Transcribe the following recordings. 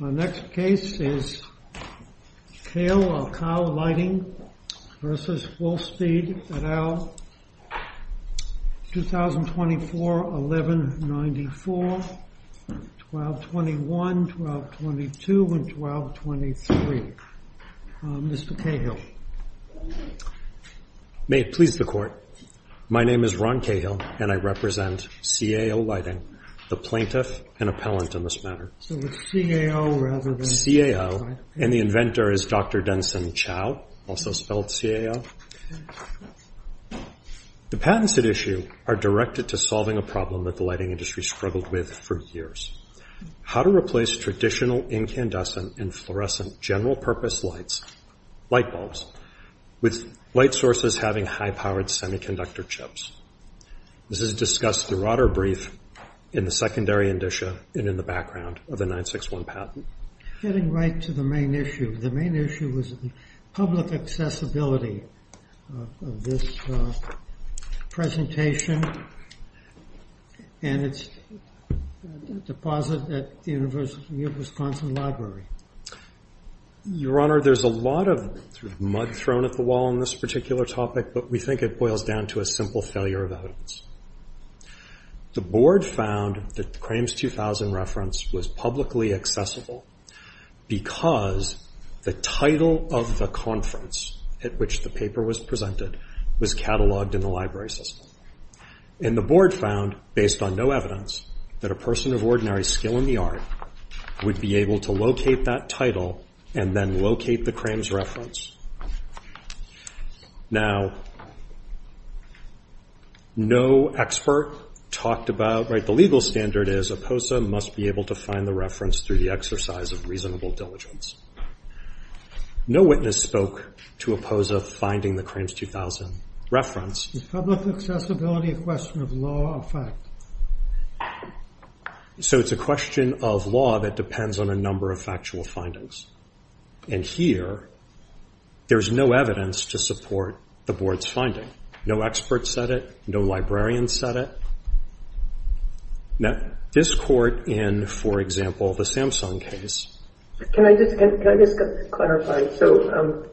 2024-1194, 1221, 1222, and 1223, Mr. Cahill. May it please the Court, my name is Ron Cahill, and I represent CAO Lighting, the plaintiff and appellant in this matter. CAO, and the inventor is Dr. Denson Chow, also spelled CAO. The patents at issue are directed to solving a problem that the lighting industry struggled with for years. How to replace traditional incandescent and fluorescent general-purpose light bulbs with light sources having high-powered semiconductor chips. This is discussed throughout our brief in the secondary indicia and in the background of the 961 patent. Getting right to the main issue. The main issue was public accessibility of this presentation and its deposit at the University of Wisconsin Library. Your Honor, there's a lot of mud thrown at the wall on this particular topic, but we think it boils down to a simple failure of evidence. The Board found that the Crames 2000 reference was publicly accessible because the title of the conference at which the paper was presented was cataloged in the library system. And the Board found, based on no evidence, that a person of ordinary skill in the art would be able to locate that title and then locate the Crames reference. Now, no expert talked about, right, the legal standard is a POSA must be able to find the reference through the exercise of reasonable diligence. No witness spoke to a POSA finding the Crames 2000 reference. Is public accessibility a question of law or fact? So it's a question of law that depends on a number of factual findings. And here, there's no evidence to support the Board's finding. No expert said it. No librarian said it. Now, this court in, for example, the Samsung case. Can I just clarify? So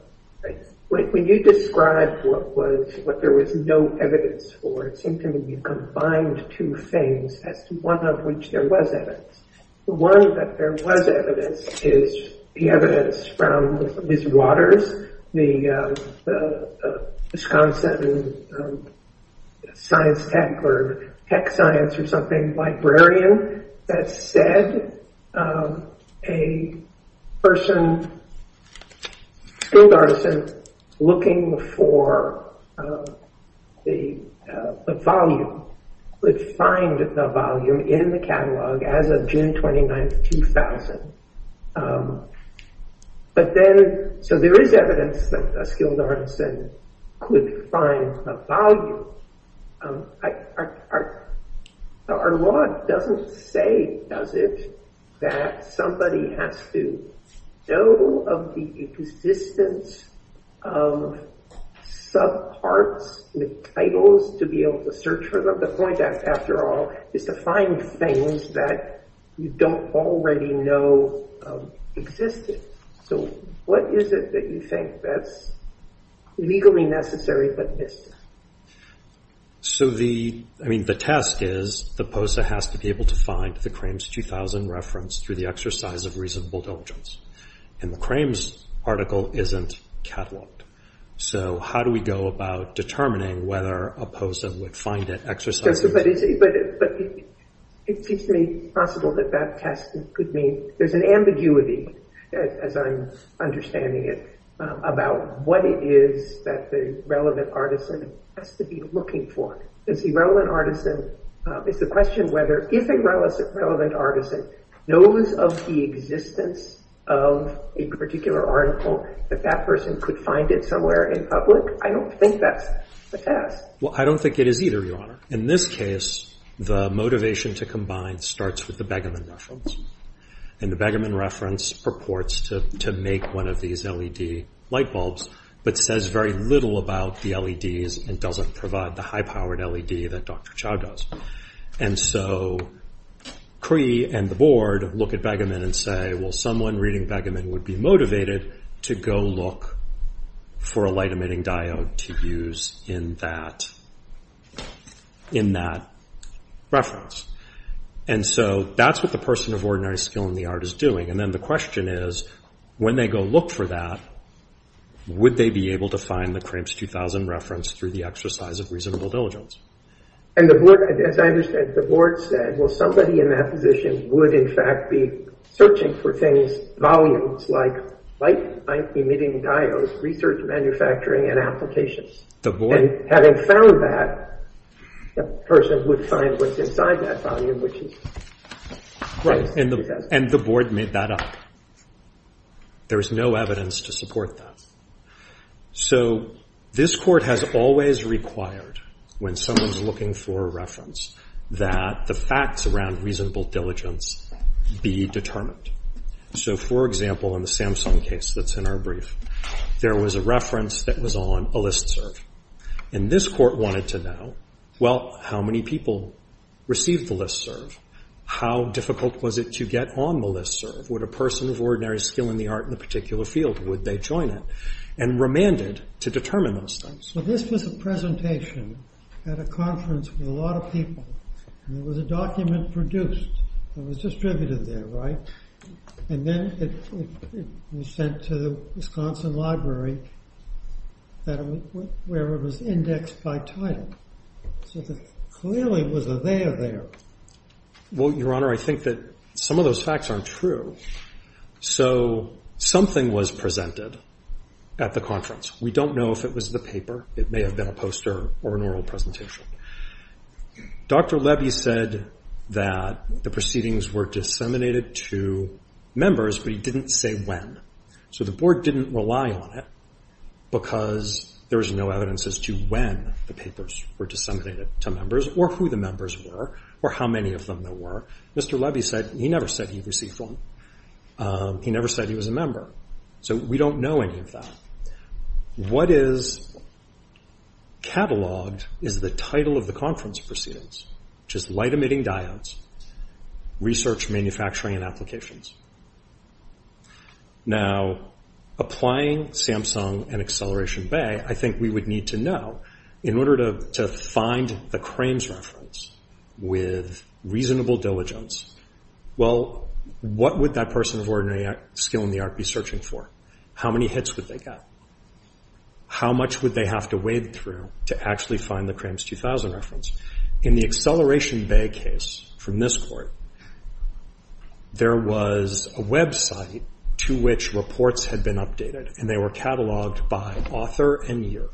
when you described what there was no evidence for, it seemed to me you combined two things as to one of which there was evidence. The one that there was evidence is the evidence from Ms. Waters, the Wisconsin science tech or tech science or something librarian, that said a person skilled artisan looking for the volume would find the volume in the catalog as of June 29, 2000. But then, so there is evidence that a skilled artisan could find the volume. Our law doesn't say, does it, that somebody has to know of the existence of subparts with titles to be able to search for them. The point, after all, is to find things that you don't already know existed. So what is it that you think that's legally necessary but missed? So the, I mean, the test is the POSA has to be able to find the Crames 2000 reference through the exercise of reasonable diligence. And the Crames article isn't cataloged. So how do we go about determining whether a POSA would find that exercise? But it seems to me possible that that test could mean there's an ambiguity, as I'm understanding it, about what it is that the relevant artisan has to be looking for. Is the relevant artisan, is the question whether, if a relevant artisan knows of the existence of a particular article, that that person could find it somewhere in public? I don't think that's the test. Well, I don't think it is either, Your Honor. In this case, the motivation to combine starts with the Begemann reference. And the Begemann reference purports to make one of these LED light bulbs, but says very little about the LEDs and doesn't provide the high-powered LED that Dr. Chow does. And so Cree and the board look at Begemann and say, well, someone reading Begemann would be motivated to go look for a light-emitting diode to use in that reference. And so that's what the person of ordinary skill in the art is doing. And then the question is, when they go look for that, would they be able to find the Crames 2000 reference through the exercise of reasonable diligence? And as I understand, the board said, well, somebody in that position would, in fact, be searching for things, volumes, like light-emitting diodes, research manufacturing, and applications. And having found that, the person would find what's inside that volume, which is right. And the board made that up. There is no evidence to support that. So this court has always required, when someone's looking for a reference, that the facts around reasonable diligence be determined. So, for example, in the Samsung case that's in our brief, there was a reference that was on a Listserv. And this court wanted to know, well, how many people received the Listserv? How difficult was it to get on the Listserv? Would a person of ordinary skill in the art in a particular field, would they join it? And remanded to determine those things. So this was a presentation at a conference with a lot of people. And there was a document produced that was distributed there, right? And then it was sent to the Wisconsin Library, where it was indexed by title. So there clearly was a there there. Well, Your Honor, I think that some of those facts aren't true. So something was presented at the conference. We don't know if it was the paper. It may have been a poster or an oral presentation. Dr. Levy said that the proceedings were disseminated to members, but he didn't say when. So the board didn't rely on it because there was no evidence as to when the papers were disseminated to members, or who the members were, or how many of them there were. Mr. Levy said he never said he received one. He never said he was a member. So we don't know any of that. What is cataloged is the title of the conference proceedings, which is Light Emitting Diodes, Research, Manufacturing, and Applications. Now, applying Samsung and Acceleration Bay, I think we would need to know, in order to find the Crames reference with reasonable diligence, well, what would that person of ordinary skill in the art be searching for? How many hits would they get? How much would they have to wade through to actually find the Crames 2000 reference? In the Acceleration Bay case, from this court, there was a website to which reports had been updated, and they were cataloged by author and year.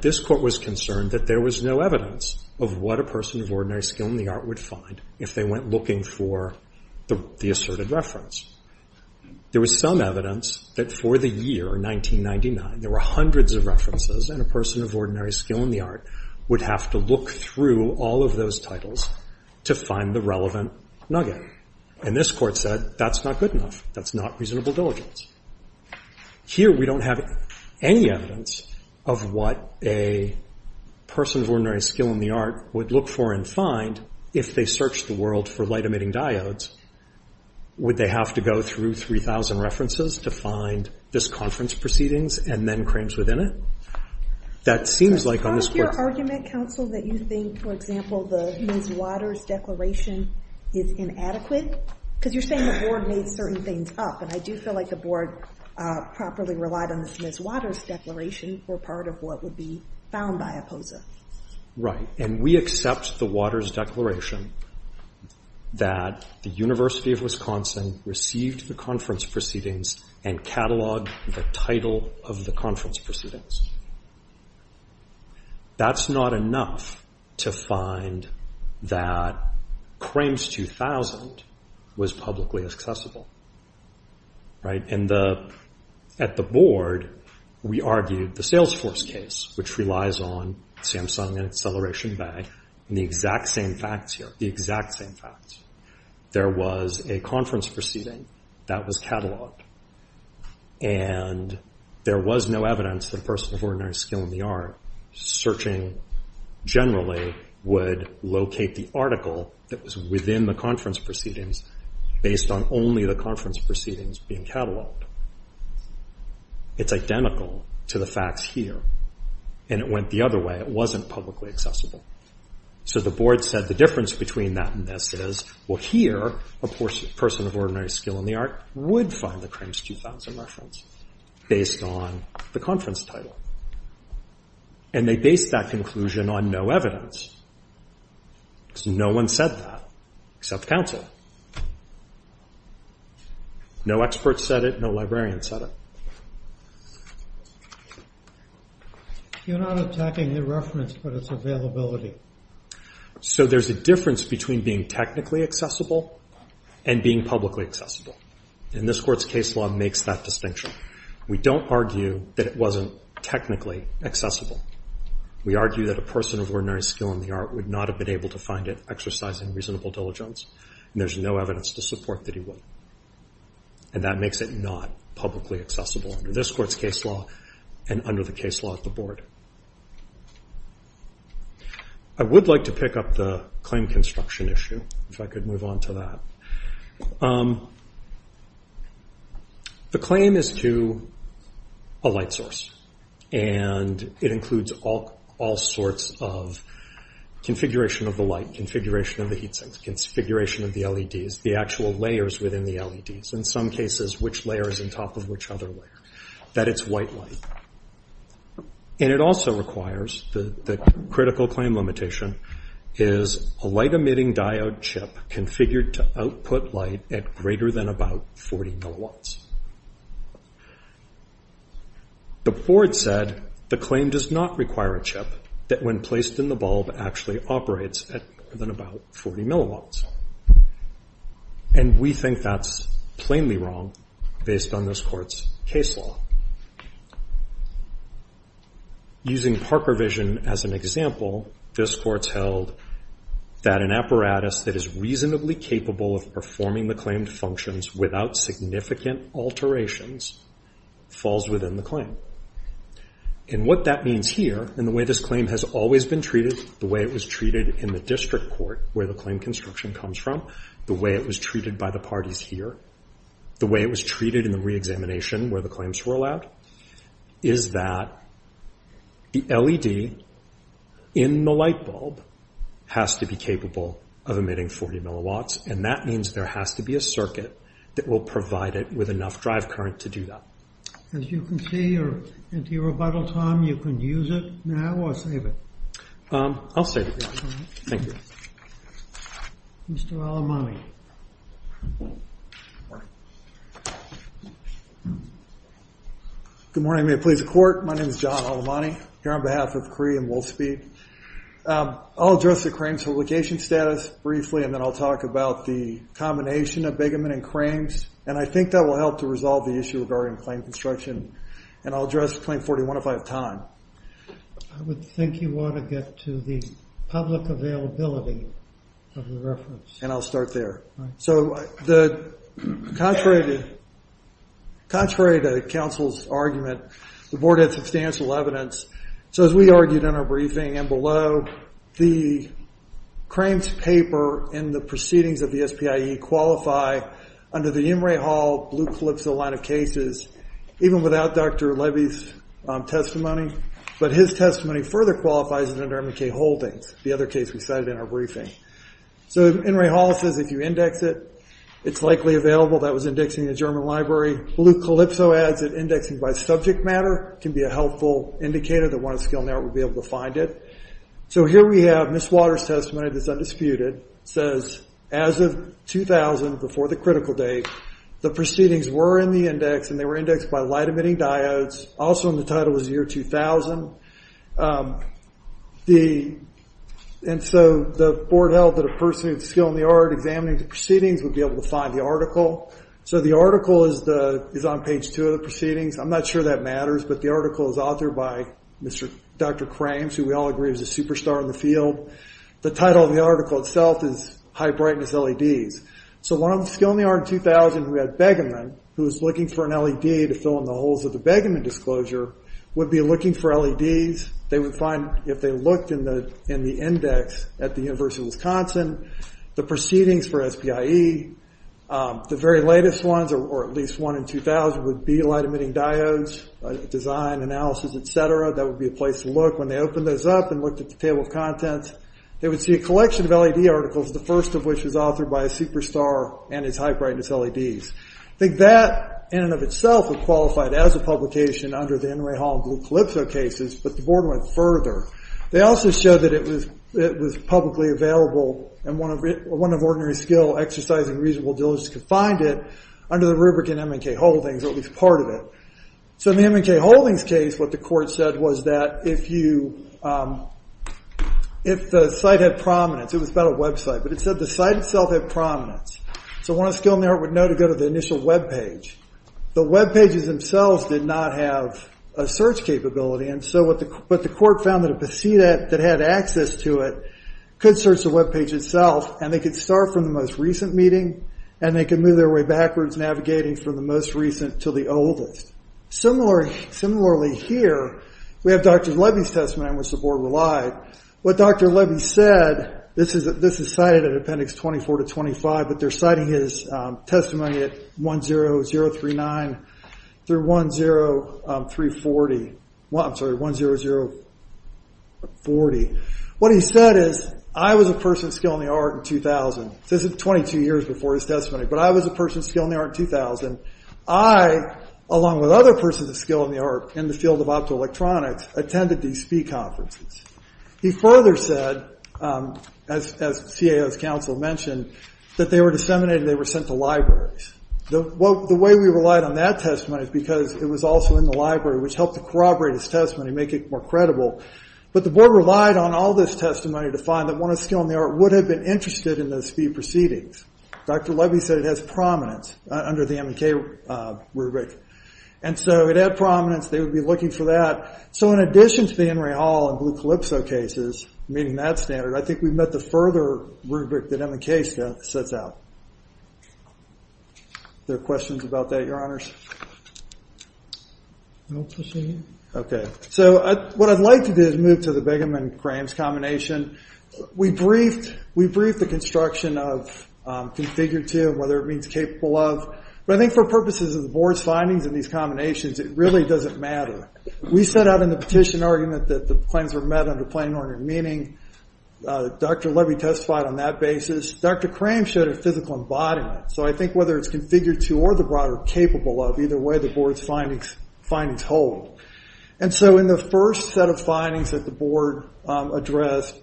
This court was concerned that there was no evidence of what a person of ordinary skill in the art would find if they went looking for the asserted reference. There was some evidence that for the year, 1999, there were hundreds of references, and a person of ordinary skill in the art would have to look through all of those titles to find the relevant nugget. And this court said, that's not good enough. That's not reasonable diligence. Here, we don't have any evidence of what a person of ordinary skill in the art would look for and find if they searched the world for light emitting diodes. Would they have to go through 3,000 references to find this conference proceedings, and then Crames within it? That seems like on this court... Is it part of your argument, counsel, that you think, for example, the Ms. Waters declaration is inadequate? Because you're saying the board made certain things up, and I do feel like the board properly relied on the Ms. Waters declaration for part of what would be found by a POSA. Right. And we accept the Waters declaration that the University of Wisconsin received the conference proceedings and cataloged the title of the conference proceedings. That's not enough to find that Crames 2000 was publicly accessible. Right. At the board, we argued the Salesforce case, which relies on Samsung and Acceleration Bay, and the exact same facts here, the exact same facts. There was a conference proceeding that was cataloged, and there was no evidence that a person of ordinary skill in the art searching generally would locate the article that was within the conference proceedings based on only the conference proceedings being cataloged. It's identical to the facts here. And it went the other way. It wasn't publicly accessible. So the board said the difference between that and this is, well, here, a person of ordinary skill in the art would find the Crames 2000 reference based on the conference title. And they based that conclusion on no evidence. So no one said that except counsel. No expert said it. No librarian said it. You're not attacking the reference, but its availability. So there's a difference between being technically accessible and being publicly accessible. And this court's case law makes that distinction. We don't argue that it wasn't technically accessible. We argue that a person of ordinary skill in the art would not have been able to find it exercising reasonable diligence, and there's no evidence to support that he would. And that makes it not publicly accessible under this court's case law and under the case law at the board. I would like to pick up the claim construction issue, if I could move on to that. The claim is to a light source. And it includes all sorts of configuration of the light, configuration of the heat sinks, configuration of the LEDs, the actual layers within the LEDs. In some cases, which layer is on top of which other layer. That it's white light. And it also requires the critical claim limitation is a light emitting diode chip configured to output light at greater than about 40 milliwatts. The board said the claim does not require a chip that when placed in the bulb actually operates at more than about 40 milliwatts. And we think that's plainly wrong based on this court's case law. Using Parker Vision as an example, this court's held that an apparatus that is reasonably capable of performing the claimed functions without significant alterations falls within the claim. And what that means here, and the way this claim has always been treated, the way it was treated in the district court where the claim construction comes from, the way it was treated by the parties here, the way it was treated in the reexamination where the claims were allowed, is that the LED in the light bulb has to be capable of emitting 40 milliwatts. And that means there has to be a circuit that will provide it with enough drive current to do that. As you can see, you're into your rebuttal time. You can use it now or save it. I'll save it. Thank you. Mr. Alamani. Good morning. May it please the court. My name is John Alamani, here on behalf of Cree and Wolfspeed. I'll address the claims publication status briefly, and then I'll talk about the combination of Bigamon and claims. And I think that will help to resolve the issue regarding claim construction. And I'll address claim 41 if I have time. I would think you want to get to the public availability of the reference. And I'll start there. So, contrary to counsel's argument, the board had substantial evidence. So, as we argued in our briefing and below, the claims paper and the proceedings of the SPIE qualify under the Inouye Hall Blue Calypso line of cases, even without Dr. Levy's testimony. But his testimony further qualifies it under M&K Holdings, the other case we cited in our briefing. So, Inouye Hall says if you index it, it's likely available. That was indexed in the German Library. Blue Calypso adds that indexing by subject matter can be a helpful indicator that one of the skill net would be able to find it. So, here we have Ms. Waters' testimony that's undisputed. It says, as of 2000, before the critical date, the proceedings were in the index, and they were indexed by light-emitting diodes. Also in the title was the year 2000. And so, the board held that a person with skill in the art examining the proceedings would be able to find the article. So, the article is on page 2 of the proceedings. I'm not sure that matters, but the article is authored by Dr. Krams, who we all agree is a superstar in the field. The title of the article itself is High Brightness LEDs. So, one of the skill in the art in 2000 who had begumment, who was looking for an LED to fill in the holes of the begumment disclosure, would be looking for LEDs. They would find, if they looked in the index at the University of Wisconsin, the proceedings for SPIE, the very latest ones, or at least one in 2000, would be light-emitting diodes, design, analysis, etc. That would be a place to look. When they opened those up and looked at the table of contents, they would see a collection of LED articles, the first of which was authored by a superstar and his High Brightness LEDs. I think that, in and of itself, would qualify it as a publication under the Enray Hall and Blue Calypso cases, but the board went further. They also showed that it was publicly available, and one of ordinary skill, exercise, and reasonable diligence could find it under the rubric in M&K Holdings, or at least part of it. In the M&K Holdings case, what the court said was that if the site had prominence, it was about a website, but it said the site itself had prominence, so one of the skill merit would know to go to the initial webpage. The webpages themselves did not have a search capability, but the court found that a PC that had access to it could search the webpage itself, and they could start from the most recent meeting, and they could move their way backwards, navigating from the most recent to the oldest. Similarly here, we have Dr. Levy's testimony, on which the board relied. What Dr. Levy said, this is cited in Appendix 24 to 25, but they're citing his testimony at 10039 through 10040. What he said is, I was a person of skill in the art in 2000. This is 22 years before his testimony, but I was a person of skill in the art in 2000. I, along with other persons of skill in the art in the field of optoelectronics, attended these SPIE conferences. He further said, as CAO's counsel mentioned, that they were disseminated, and they were sent to libraries. The way we relied on that testimony is because it was also in the library, which helped to corroborate his testimony, make it more credible, but the board relied on all this testimony to find that one of the skill in the art would have been interested in those few proceedings. Dr. Levy said it has prominence under the M&K rubric. And so it had prominence. They would be looking for that. So in addition to the Henry Hall and Blue Calypso cases meeting that standard, I think we've met the further rubric that M&K sets out. Are there questions about that, Your Honors? I'll proceed. Okay. So what I'd like to do is move to the Begum and Crams combination. We briefed the construction of configured to and whether it means capable of. But I think for purposes of the board's findings in these combinations, it really doesn't matter. We set out in the petition argument that the claims were met under plain order meaning. Dr. Levy testified on that basis. Dr. Crams showed a physical embodiment. So I think whether it's configured to or the broader capable of, either way the board's findings hold. And so in the first set of findings that the board addressed,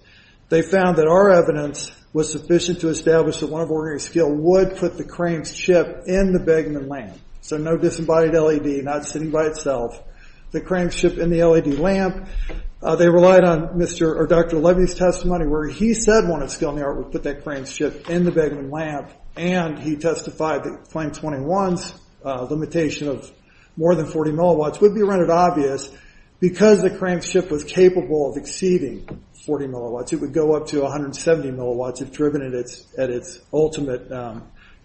they found that our evidence was sufficient to establish that one of Oregon's scale would put the Crams chip in the Begum and Lamp. So no disembodied LED, not sitting by itself. The Crams chip in the LED lamp. They relied on Dr. Levy's testimony where he said one of the scale in the art would put that Crams chip in the Begum and Lamp. And he testified that Flame 21's limitation of more than 40 milliwatts would be rendered obvious because the Crams chip was capable of exceeding 40 milliwatts. It would go up to 170 milliwatts if driven at its ultimate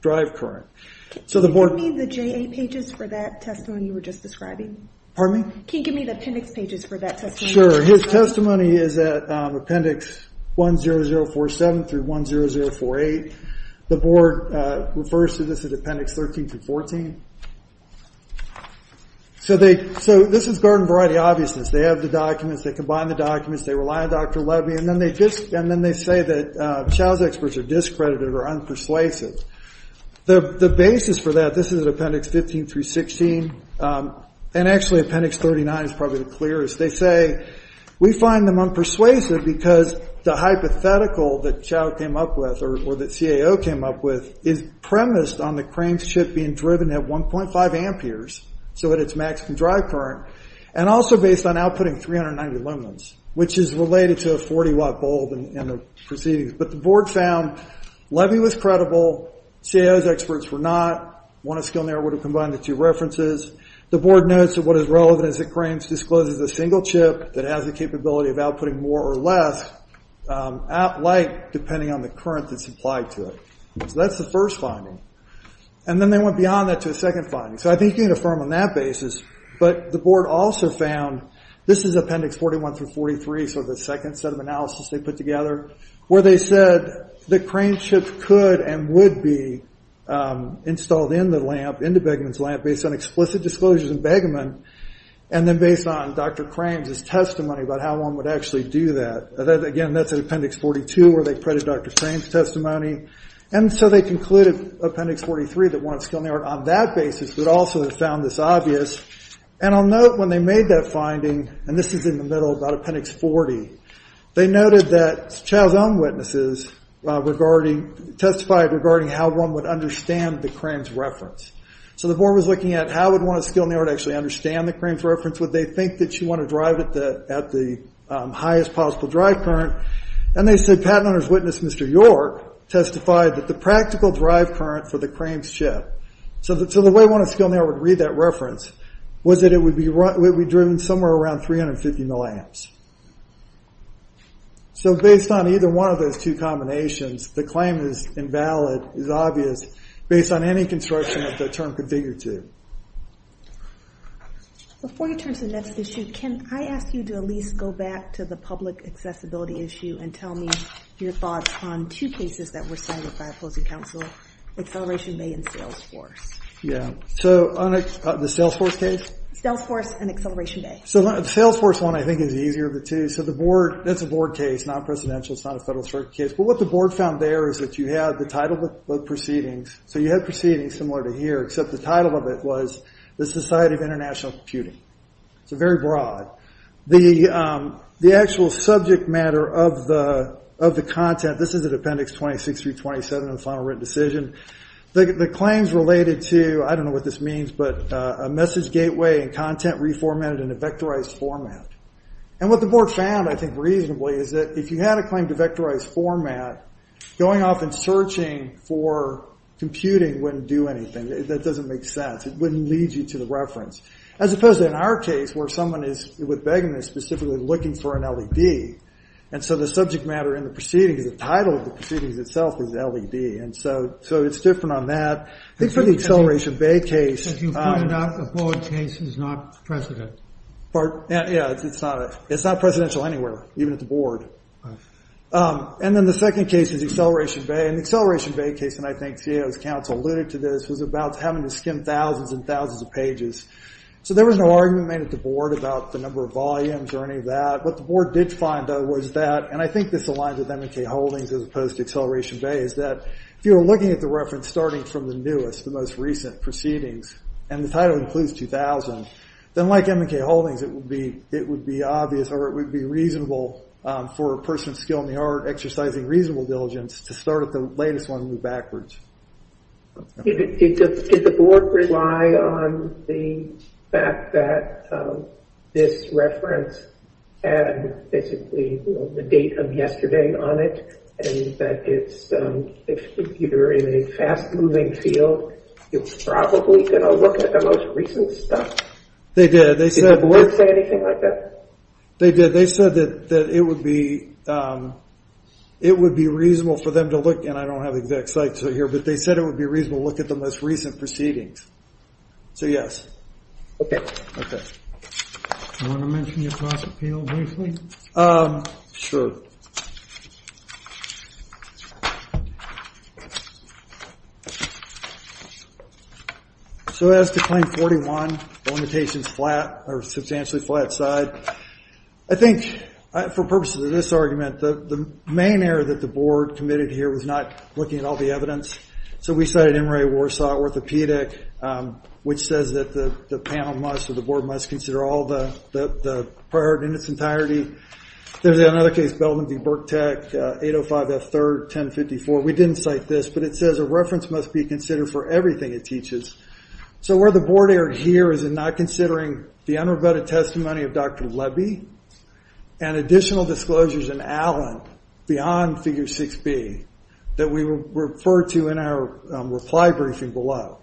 drive current. Can you give me the J8 pages for that testimony you were just describing? Pardon me? Can you give me the appendix pages for that testimony? Sure. His testimony is at appendix 10047 through 10048. The board refers to this as appendix 13 through 14. So this is garden variety obviousness. They have the documents, they combine the documents, they rely on Dr. Levy, and then they say that Chow's experts are discredited or unpersuasive. The basis for that, this is appendix 15 through 16, and actually appendix 39 is probably the clearest. They say we find them unpersuasive because the hypothetical that Chow came up with or that CAO came up with is premised on the Crams chip being driven at 1.5 amperes, so at its maximum drive current, and also based on outputting 390 lumens, which is related to a 40-watt bulb in the proceedings. But the board found Levy was credible, CAO's experts were not. One of Skilner would have combined the two references. The board notes that what is relevant is that Crams discloses a single chip that has the capability of outputting more or less light, depending on the current that's applied to it. So that's the first finding. And then they went beyond that to a second finding. So I think you can affirm on that basis. But the board also found, this is appendix 41 through 43, so the second set of analysis they put together, where they said that Crams chips could and would be installed in the lamp, into Begemann's lamp, based on explicit disclosures in Begemann, and then based on Dr. Crams' testimony about how one would actually do that. Again, that's in appendix 42 where they credit Dr. Crams' testimony. And so they concluded, appendix 43, that one of Skilner, on that basis, would also have found this obvious. And I'll note when they made that finding, and this is in the middle, about appendix 40, they noted that CAO's own witnesses testified regarding how one would understand the Crams reference. So the board was looking at how would one of Skilner actually understand the Crams reference. Would they think that you want to drive it at the highest possible drive current? And they said patent owner's witness, Mr. York, testified that the practical drive current for the Crams chip, so the way one of Skilner would read that reference, was that it would be driven somewhere around 350 milliamps. So based on either one of those two combinations, the claim is invalid, is obvious, based on any construction that the term could figure to. Before you turn to the next issue, can I ask you to at least go back to the public accessibility issue and tell me your thoughts on two cases that were cited by opposing counsel, Acceleration Bay and Salesforce. The Salesforce case? Salesforce and Acceleration Bay. The Salesforce one I think is easier of the two. So the board, that's a board case, not a presidential, it's not a federal circuit case. But what the board found there is that you had the title of proceedings, so you had proceedings similar to here, except the title of it was the Society of International Computing. So very broad. The actual subject matter of the content, this is at appendix 26 through 27 of the final written decision, the claims related to, I don't know what this means, but a message gateway and content reformatted in a vectorized format. And what the board found, I think reasonably, is that if you had a claim to vectorized format, going off and searching for computing wouldn't do anything. That doesn't make sense. It wouldn't lead you to the reference. As opposed to in our case, where someone is, with Begum, is specifically looking for an LED. And so the subject matter in the proceedings, the title of the proceedings itself is LED. And so it's different on that. I think for the Acceleration Bay case... As you pointed out, the board case is not presidential. Yeah, it's not. It's not presidential anywhere, even at the board. And then the second case is Acceleration Bay. And the Acceleration Bay case, and I think CAO's counsel alluded to this, was about having to skim thousands and thousands of pages so there was no argument made at the board about the number of volumes or any of that. What the board did find, though, was that, and I think this aligns with M&K Holdings as opposed to Acceleration Bay, is that if you were looking at the reference starting from the newest, the most recent proceedings, and the title includes 2000, then like M&K Holdings, it would be obvious, or it would be reasonable for a person with skill in the art exercising reasonable diligence to start at the latest one and move backwards. Did the board rely on the fact that this reference had basically the date of yesterday on it and that if you're in a fast-moving field, you're probably going to look at the most recent stuff? They did. Did the board say anything like that? They did. They said that it would be reasonable for them to look, and I don't have the exact site to it here, but they said it would be reasonable to look at the most recent proceedings. So, yes. Okay. Do you want to mention your cost appeal briefly? Sure. So as to Claim 41, Limitations Flat or Substantially Flat Side, I think for purposes of this argument, the main error that the board committed here was not looking at all the evidence. So we cited M. Ray Warsaw Orthopedic, which says that the panel must, or the board must, consider all the prior art in its entirety. There's another case, Belden v. BurkTech, 805 F. 3rd, 1054. We didn't cite this, but it says a reference must be considered for everything it teaches. So where the board erred here is in not considering the unrebutted testimony of Dr. Levy and additional disclosures in Allen beyond Figure 6B that we refer to in our reply briefing below,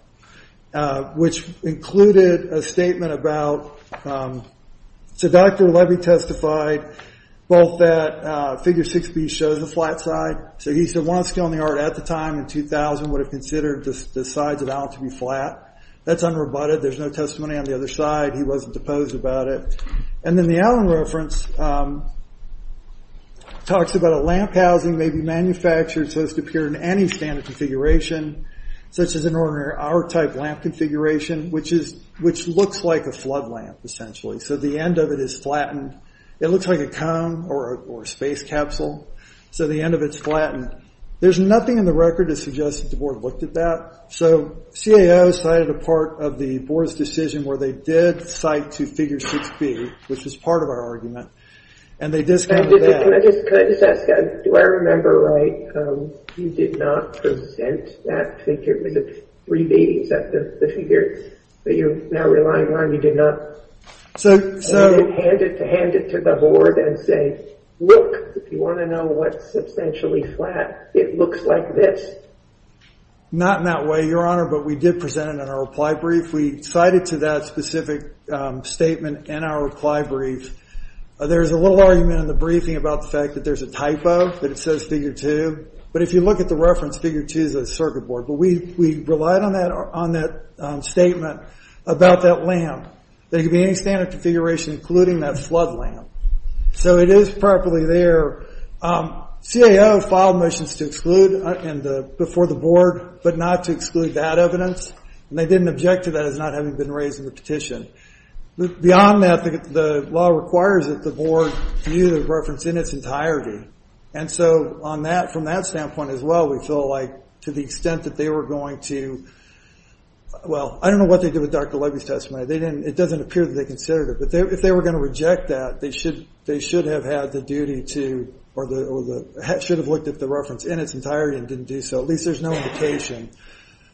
which included a statement about, so Dr. Levy testified both that Figure 6B shows the flat side. So he said one skill in the art at the time, in 2000, would have considered the sides of Allen to be flat. That's unrebutted. There's no testimony on the other side. He wasn't opposed about it. And then the Allen reference talks about a lamp housing may be manufactured so as to appear in any standard configuration, such as an ordinary R-type lamp configuration, which looks like a flood lamp, essentially. So the end of it is flattened. It looks like a cone or a space capsule. So the end of it's flattened. There's nothing in the record that suggests that the board looked at that. So CAO cited a part of the board's decision where they did cite to Figure 6B, which is part of our argument, and they discounted that. Can I just ask, do I remember right? You did not present that figure. It was a 3B. Is that the figure that you're now relying on? You did not hand it to the board and say, look, if you want to know what's substantially flat, it looks like this. Not in that way, Your Honor, but we did present it in our reply brief. We cited to that specific statement in our reply brief. There's a little argument in the briefing about the fact that there's a typo, that it says Figure 2. But if you look at the reference, Figure 2 is a circuit board. But we relied on that statement about that lamp. There could be any standard configuration, including that flood lamp. So it is properly there. CAO filed motions to exclude before the board, but not to exclude that evidence. And they didn't object to that as not having been raised in the petition. Beyond that, the law requires that the board view the reference in its entirety. And so from that standpoint as well, we feel like to the extent that they were going to – well, I don't know what they did with Dr. Levy's testimony. It doesn't appear that they considered it. But if they were going to reject that, they should have had the duty to – or should have looked at the reference in its entirety and didn't do so. At least there's no indication.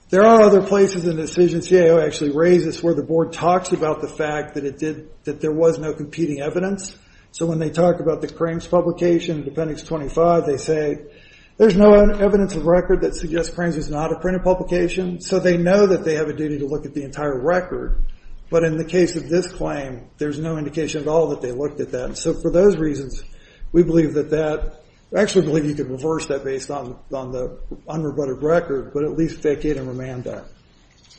There are other places in the decision CAO actually raises where the board talks about the fact that it did – that there was no competing evidence. So when they talk about the Crams publication, Appendix 25, they say there's no evidence of record that suggests Crams is not a printed publication. So they know that they have a duty to look at the entire record. But in the case of this claim, there's no indication at all that they looked at that. So for those reasons, we believe that that – actually believe you could reverse that based on the unrebutted record, but at least vacate and remand that.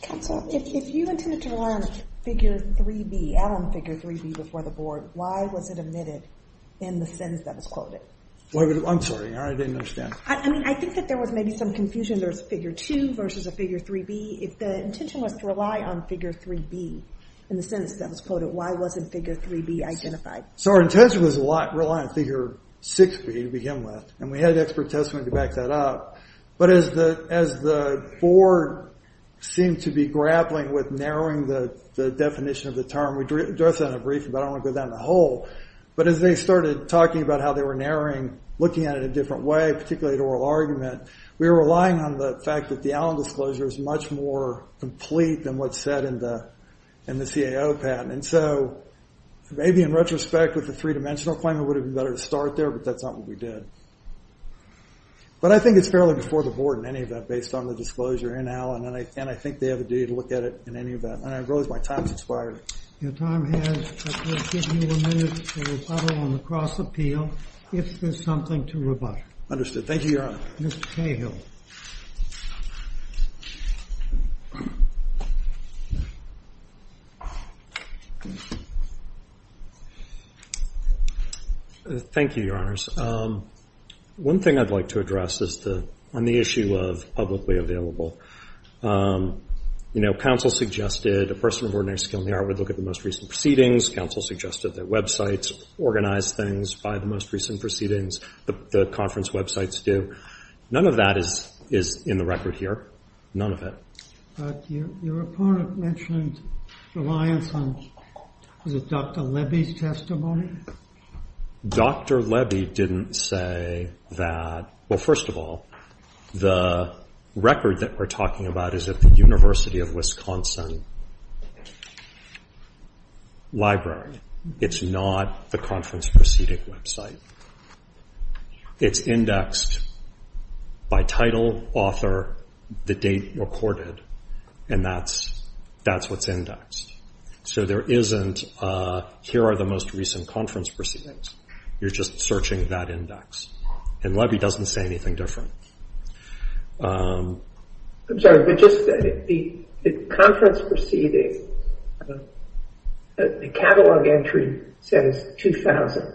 Counsel, if you intended to rely on Figure 3B, add on Figure 3B before the board, why was it omitted in the sentence that was quoted? I'm sorry. I didn't understand. I mean, I think that there was maybe some confusion. There's Figure 2 versus a Figure 3B. If the intention was to rely on Figure 3B in the sentence that was quoted, why wasn't Figure 3B identified? So our intention was to rely on Figure 6B to begin with, and we had expert testimony to back that up. But as the board seemed to be grappling with narrowing the definition of the term, we addressed that in a briefing, but I don't want to go down the hole. But as they started talking about how they were narrowing, looking at it a different way, particularly the oral argument, we were relying on the fact that the Allen disclosure is much more complete than what's said in the CAO patent. And so maybe in retrospect, with the three-dimensional claim, it would have been better to start there, but that's not what we did. But I think it's fairly before the board in any event based on the disclosure in Allen, and I think they have a duty to look at it in any event. And I realize my time has expired. Your time has. I'm going to give you a minute to rebuttal on the cross-appeal if there's something to rebut. Understood. Thank you, Your Honor. Mr. Cahill. Thank you, Your Honors. One thing I'd like to address is on the issue of publicly available. You know, counsel suggested a person of ordinary skill in the art would look at the most recent proceedings. Counsel suggested that websites organize things by the most recent proceedings. The conference websites do. None of that is in the record here. None of it. Your opponent mentioned reliance on, was it Dr. Levy's testimony? Dr. Levy didn't say that. Well, first of all, the record that we're talking about is at the University of Wisconsin library. It's not the conference proceeding website. It's indexed by title, author, the date recorded, and that's what's indexed. So there isn't here are the most recent conference proceedings. You're just searching that index. And Levy doesn't say anything different. I'm sorry, but just the conference proceedings, the catalog entry says 2000.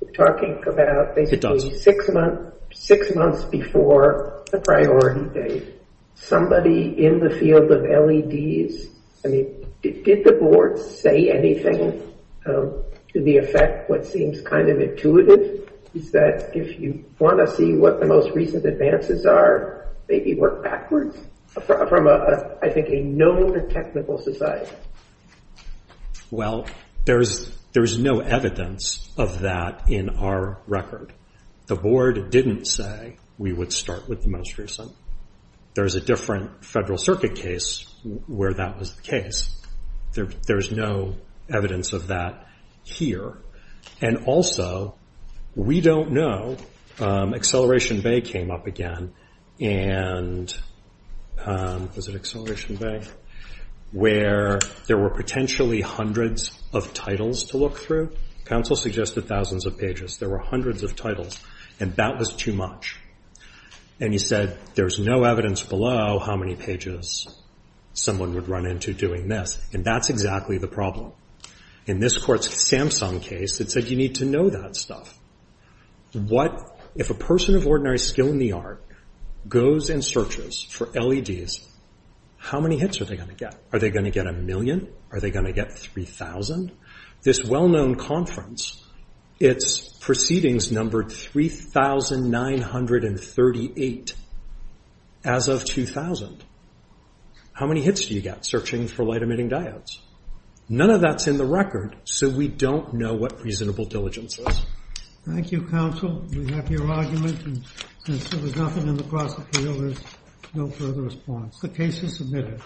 We're talking about basically six months before the priority date. Somebody in the field of LEDs, I mean, did the board say anything to the effect what seems kind of intuitive? Is that if you want to see what the most recent advances are, maybe work backwards from, I think, a known technical society. Well, there's no evidence of that in our record. The board didn't say we would start with the most recent. There's a different federal circuit case where that was the case. There's no evidence of that here. And also, we don't know, Acceleration Bay came up again. Was it Acceleration Bay? Where there were potentially hundreds of titles to look through. Counsel suggested thousands of pages. There were hundreds of titles, and that was too much. And he said, there's no evidence below how many pages someone would run into doing this. And that's exactly the problem. In this court's Samsung case, it said you need to know that stuff. If a person of ordinary skill in the art goes and searches for LEDs, how many hits are they going to get? Are they going to get a million? Are they going to get 3,000? This well-known conference, its proceedings numbered 3,938 as of 2000. How many hits do you get searching for light-emitting diodes? None of that's in the record, so we don't know what reasonable diligence is. Thank you, counsel. We have your argument. And since there was nothing in the cross appeal, there's no further response. The case is submitted.